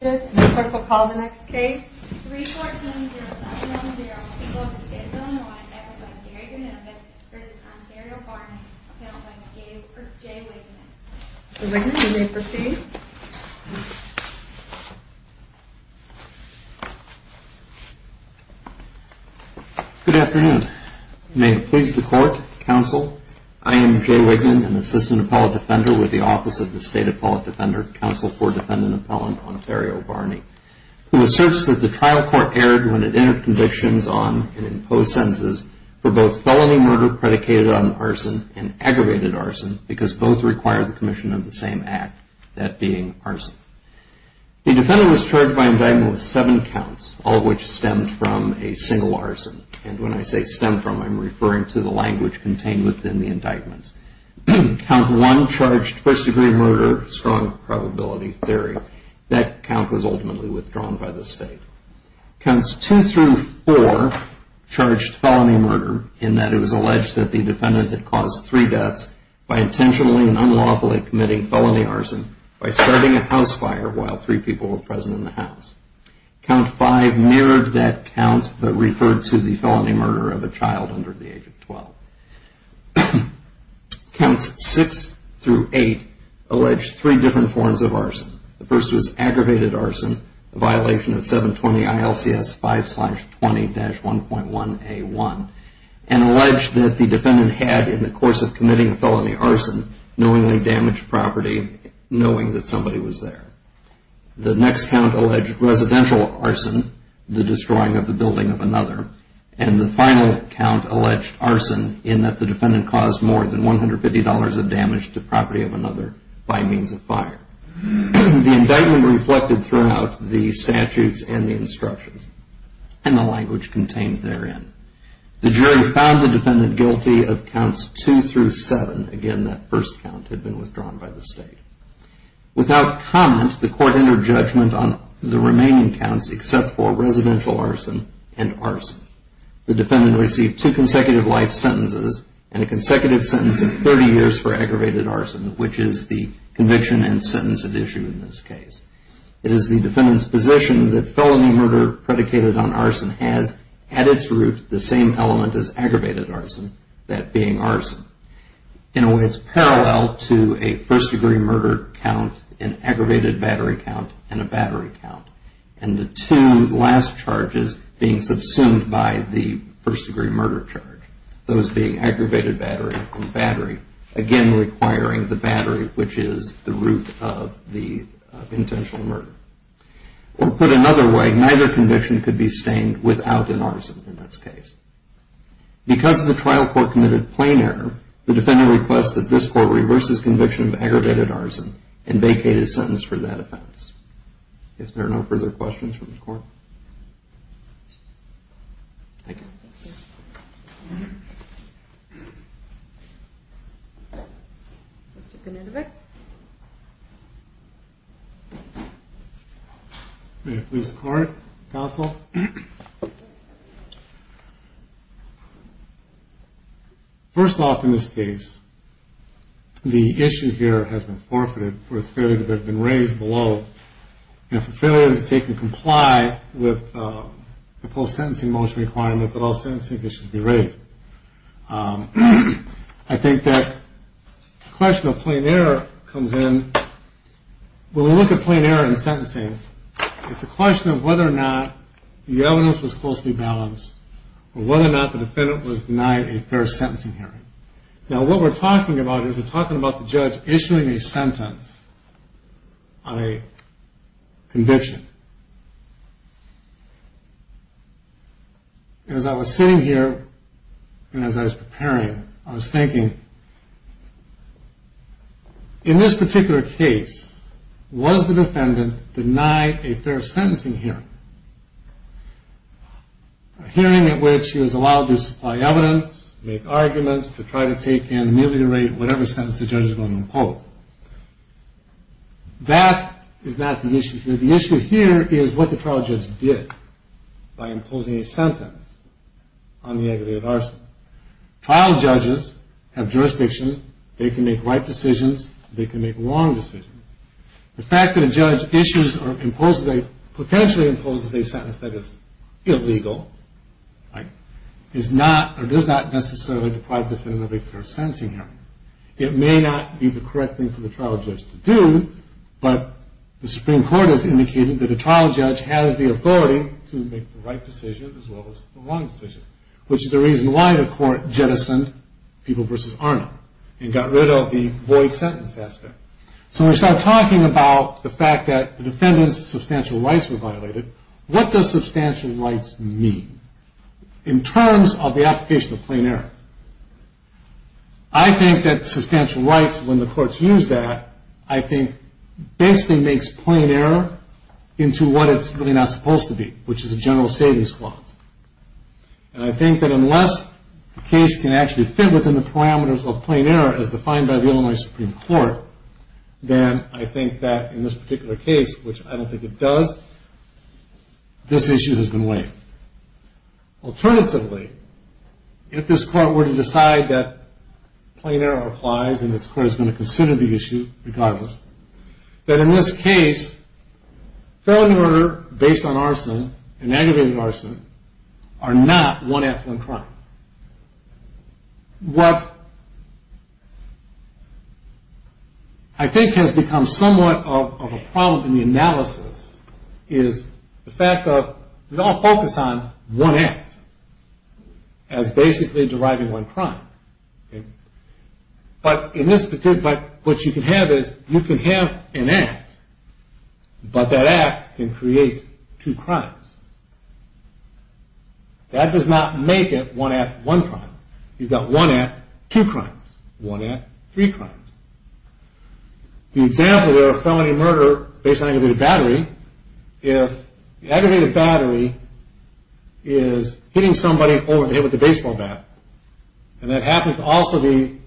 Good afternoon. May it please the court, counsel. I am Jay Wigman, an Assistant Appellate Defender with the Office of the State Appellate Defender, Counsel for Defendant Appellant Ontario. Barney, who asserts that the trial court erred when it entered convictions on and imposed sentences for both felony murder predicated on arson and aggravated arson because both required the commission of the same act, that being arson. The defendant was charged by indictment with seven counts, all of which stemmed from a single arson. And when I say stemmed from, I am referring to the language contained within the indictment. Count one charged first degree murder, strong probability theory. That count was ultimately withdrawn by the state. Counts two through four charged felony murder in that it was alleged that the defendant had caused three deaths by intentionally and unlawfully committing felony arson by starting a house fire while three people were present in the house. Count five mirrored that count but referred to the felony murder of a child under the age of 12. Counts six through eight alleged three different forms of arson. The first was aggravated arson, a violation of 720 ILCS 5-20-1.1A1, and alleged that the defendant had, in the course of committing felony arson, knowingly damaged property, knowing that somebody was there. The next count alleged residential arson, the destroying of the building of another. And the final count alleged arson in that the defendant caused more than $150 of damage to property of another by means of fire. The indictment reflected throughout the statutes and the instructions and the language contained therein. The jury found the defendant guilty of counts two through seven. Again, that first count had been withdrawn by the state. Without comment, the court entered judgment on the remaining counts except for residential arson and arson. The defendant received two consecutive life sentences and a consecutive sentence of 30 years for aggravated arson, which is the conviction and sentence at issue in this case. It is the defendant's position that felony murder predicated on arson has, at its root, the same element as aggravated arson, that being arson. In a way, it's parallel to a first degree murder count, an aggravated battery count, and a battery count. And the two last charges being subsumed by the first degree murder charge, those being aggravated battery and battery, again requiring the battery, which is the root of the intentional murder. Or put another way, neither conviction could be stained without an arson in this case. Because of the trial court-committed plain error, the defendant requests that this court reverse his conviction of aggravated arson and vacate his sentence for that offense. If there are no further questions from the court. Thank you. Let's take a minute of it. May it please the court, counsel. First off in this case, the issue here has been forfeited for its failure to have been raised below. You know, for failure to take and comply with the post-sentencing motion requirement that all sentencing cases be raised. I think that question of plain error comes in, when we look at plain error in sentencing, it's a question of whether or not the evidence was closely balanced, or whether or not the defendant was denied a fair sentencing hearing. Now what we're talking about is we're talking about the judge issuing a sentence on a conviction. As I was sitting here, and as I was preparing, I was thinking, in this particular case, was the defendant denied a fair sentencing hearing? A hearing at which he was allowed to supply evidence, make arguments, to try to take and ameliorate whatever sentence the judge was going to impose. That is not the issue here. The issue here is what the trial judge did by imposing a sentence on the aggravated arson. Trial judges have jurisdiction, they can make right decisions, they can make wrong decisions. The fact that a judge potentially imposes a sentence that is illegal does not necessarily deprive the defendant of a fair sentencing hearing. It may not be the correct thing for the trial judge to do, but the Supreme Court has indicated that a trial judge has the authority to make the right decision, as well as the wrong decision, which is the reason why the court jettisoned People v. Arnold and got rid of the void sentence aspect. So when we start talking about the fact that the defendant's substantial rights were violated, what does substantial rights mean? In terms of the application of plain error, I think that substantial rights, when the courts use that, I think basically makes plain error into what it's really not supposed to be, which is a general savings clause. And I think that unless the case can actually fit within the parameters of plain error as defined by the Illinois Supreme Court, then I think that in this particular case, which I don't think it does, this issue has been waived. Alternatively, if this court were to decide that plain error applies and this court is going to consider the issue regardless, that in this case, felony murder based on arson and aggravated arson are not one act, one crime. What I think has become somewhat of a problem in the analysis is the fact of we all focus on one act as basically deriving one crime. But in this particular case, what you can have is you can have an act, but that act can create two crimes. That does not make it one act, one crime. You've got one act, two crimes. One act, three crimes. The example there of felony murder based on aggravated battery, if the aggravated battery is hitting somebody over the head with a baseball bat, and that happens to also be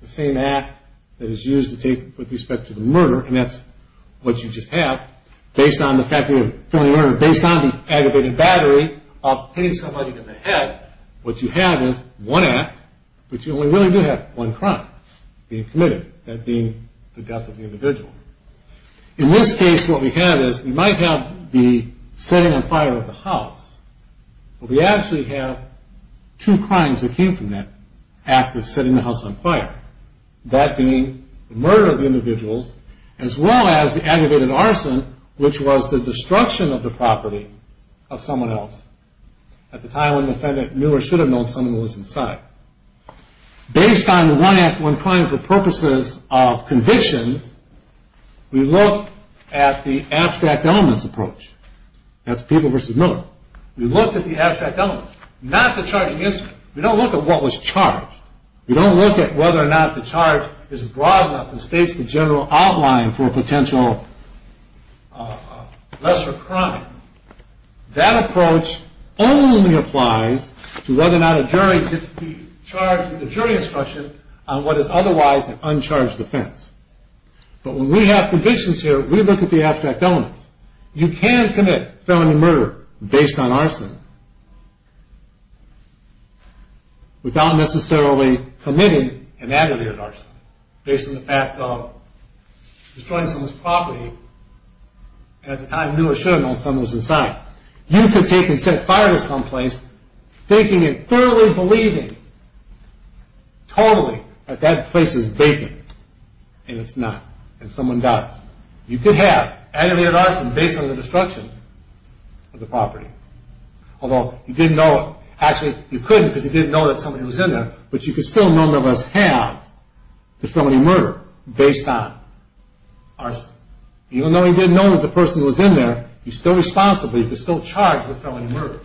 the same act that is used to take with respect to the murder, and that's what you just have, based on the fact of felony murder, based on the aggravated battery of hitting somebody in the head, what you have is one act, but you only really do have one crime, being committed, that being the death of the individual. In this case, what we have is we might have the setting on fire of the house, but we actually have two crimes that came from that act of setting the house on fire. That being the murder of the individuals, as well as the aggravated arson, which was the destruction of the property of someone else, at the time when the defendant knew or should have known someone was inside. Based on the one act, one crime for purposes of conviction, we look at the abstract elements approach. That's Peeble versus Miller. We look at the abstract elements, not the charge against them. We don't look at what was charged. We don't look at whether or not the charge is broad enough and states the general outline for a potential lesser crime. That approach only applies to whether or not a jury gets to be charged with a jury instruction on what is otherwise an uncharged offense. But when we have convictions here, we look at the abstract elements. You can commit felony murder based on arson without necessarily committing an aggravated arson based on the fact of destroying someone's property and at the time knew or should have known someone was inside. You could take and set fire to some place thinking and thoroughly believing totally that that place is vacant, and it's not, and someone dies. You could have aggravated arson based on the destruction of the property, although you didn't know, actually you couldn't because you didn't know that someone was in there, but you could still, none of us have the felony murder based on arson. Even though he didn't know that the person was in there, he's still responsible, he could still charge the felony murder.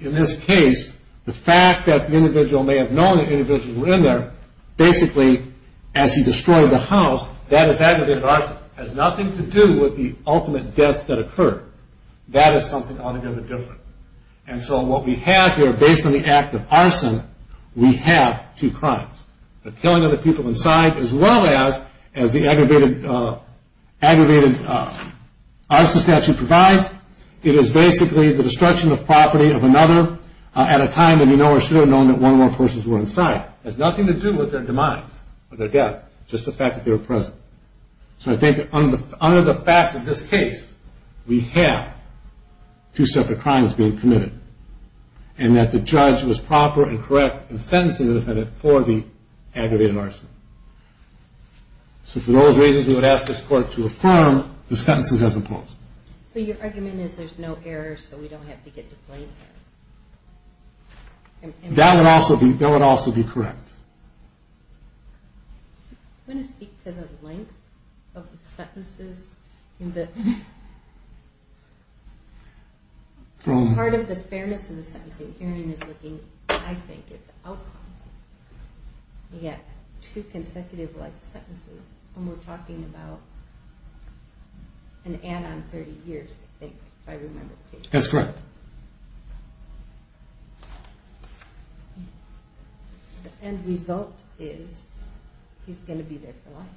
In this case, the fact that the individual may have known the individual was in there, basically as he destroyed the house, that is aggravated arson. It has nothing to do with the ultimate death that occurred. That is something altogether different. And so what we have here, based on the act of arson, we have two crimes. The killing of the people inside as well as the aggravated arson statute provides. It is basically the destruction of property of another at a time that he know or should have known that one or more persons were inside. It has nothing to do with their demise or their death, just the fact that they were present. So I think under the facts of this case, we have two separate crimes being committed for the aggravated arson. So for those reasons, we would ask this court to affirm the sentences as imposed. So your argument is there's no error, so we don't have to get to blame him? That would also be correct. Do you want to speak to the length of the sentences? Part of the fairness of the sentencing hearing is looking, I think, at the outcome. You get two consecutive life sentences, and we're talking about an add-on 30 years, I think, if I remember correctly. That's correct. The end result is he's going to be there for life.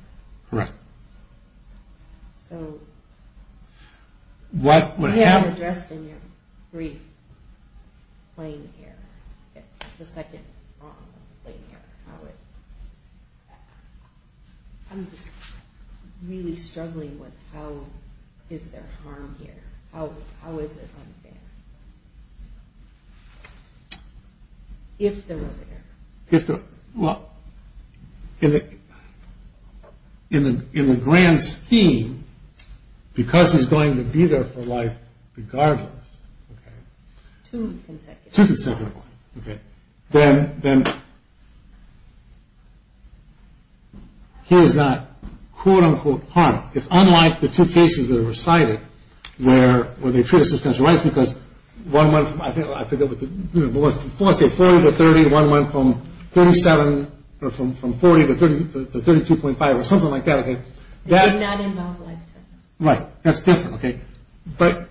Correct. So they are addressed in your brief, plain error, the second plain error. I'm just really struggling with how is there harm here. How is it unfair if there was error? Well, in the grand scheme, because he's going to be there for life regardless. Two consecutive ones. Two consecutive ones. Okay. Then he is not, quote-unquote, harmed. It's unlike the two cases that are recited where they treat it as substantial rights because one went from 40 to 30, one went from 47 or from 40 to 32.5 or something like that. That did not involve life sentences. Right. That's different. But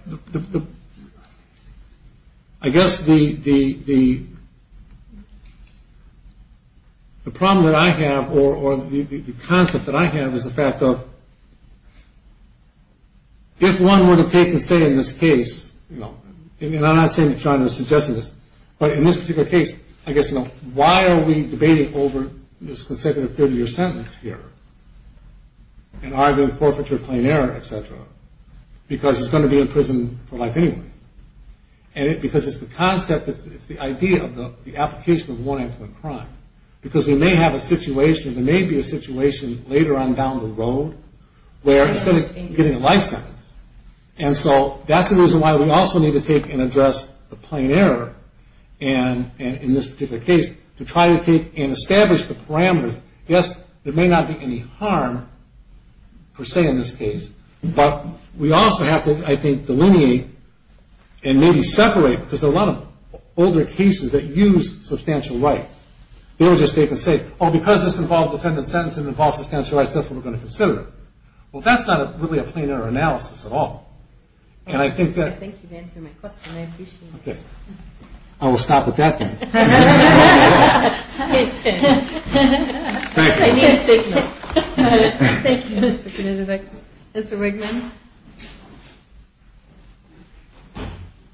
I guess the problem that I have or the concept that I have is the fact of if one were to take and say in this case, you know, and I'm not saying that China is suggesting this, but in this particular case, I guess, you know, why are we debating over this consecutive 30-year sentence here and arguing forfeiture, plain error, et cetera? Because he's going to be in prison for life anyway. And because it's the concept, it's the idea of the application of warranted crime. Because we may have a situation, there may be a situation later on down the road where instead of getting a life sentence. And so that's the reason why we also need to take and address the plain error in this particular case to try to take and establish the parameters. Yes, there may not be any harm per se in this case. But we also have to, I think, delineate and maybe separate because there are a lot of older cases that use substantial rights. They will just take and say, oh, because this involves a defendant's sentence, it involves substantial rights, so we're going to consider it. Well, that's not really a plain error analysis at all. And I think that. Thank you for answering my question. I appreciate it. Okay. I will stop with that then. Thank you. I need a signal. Thank you, Mr. Knudovic. Mr. Wigman.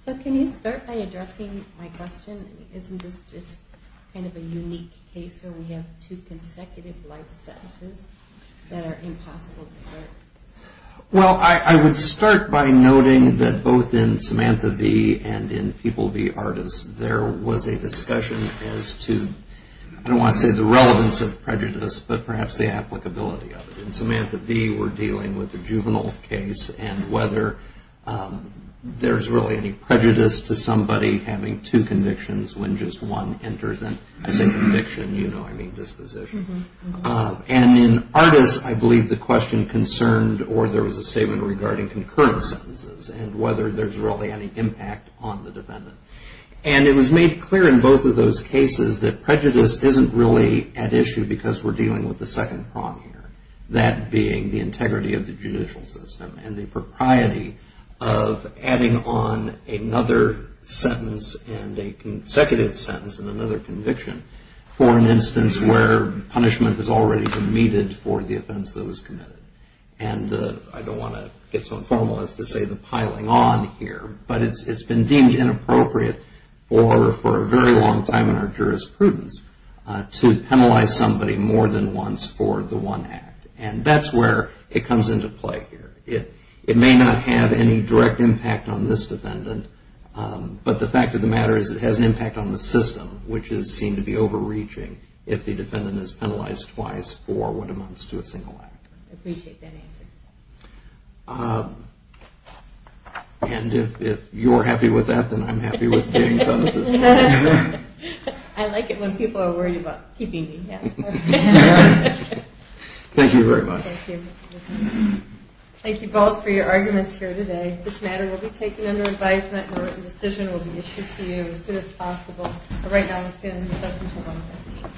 So can you start by addressing my question? Isn't this just kind of a unique case where we have two consecutive life sentences that are impossible to assert? Well, I would start by noting that both in Samantha V. and in People V. Artists, there was a discussion as to, I don't want to say the relevance of prejudice, but perhaps the applicability of it. In Samantha V., we're dealing with a juvenile case, and whether there's really any prejudice to somebody having two convictions when just one enters. And I say conviction, you know I mean disposition. And in Artists, I believe the question concerned or there was a statement regarding concurrent sentences and whether there's really any impact on the defendant. And it was made clear in both of those cases that prejudice isn't really at issue because we're dealing with the second prong here, that being the integrity of the judicial system and the propriety of adding on another sentence and a consecutive sentence and another conviction for an instance where punishment is already permitted for the offense that was committed. And I don't want to get so informal as to say the piling on here, but it's been deemed inappropriate for a very long time in our jurisprudence to penalize somebody more than once for the one act. And that's where it comes into play here. It may not have any direct impact on this defendant, but the fact of the matter is it has an impact on the system, which is seen to be overreaching if the defendant is penalized twice for what amounts to a single act. I appreciate that answer. And if you're happy with that, then I'm happy with being done at this point. I like it when people are worried about keeping me here. Thank you very much. Thank you. Thank you both for your arguments here today. This matter will be taken under advisement and a written decision will be issued to you as soon as possible. For right now, we'll stand in recess until 1 o'clock.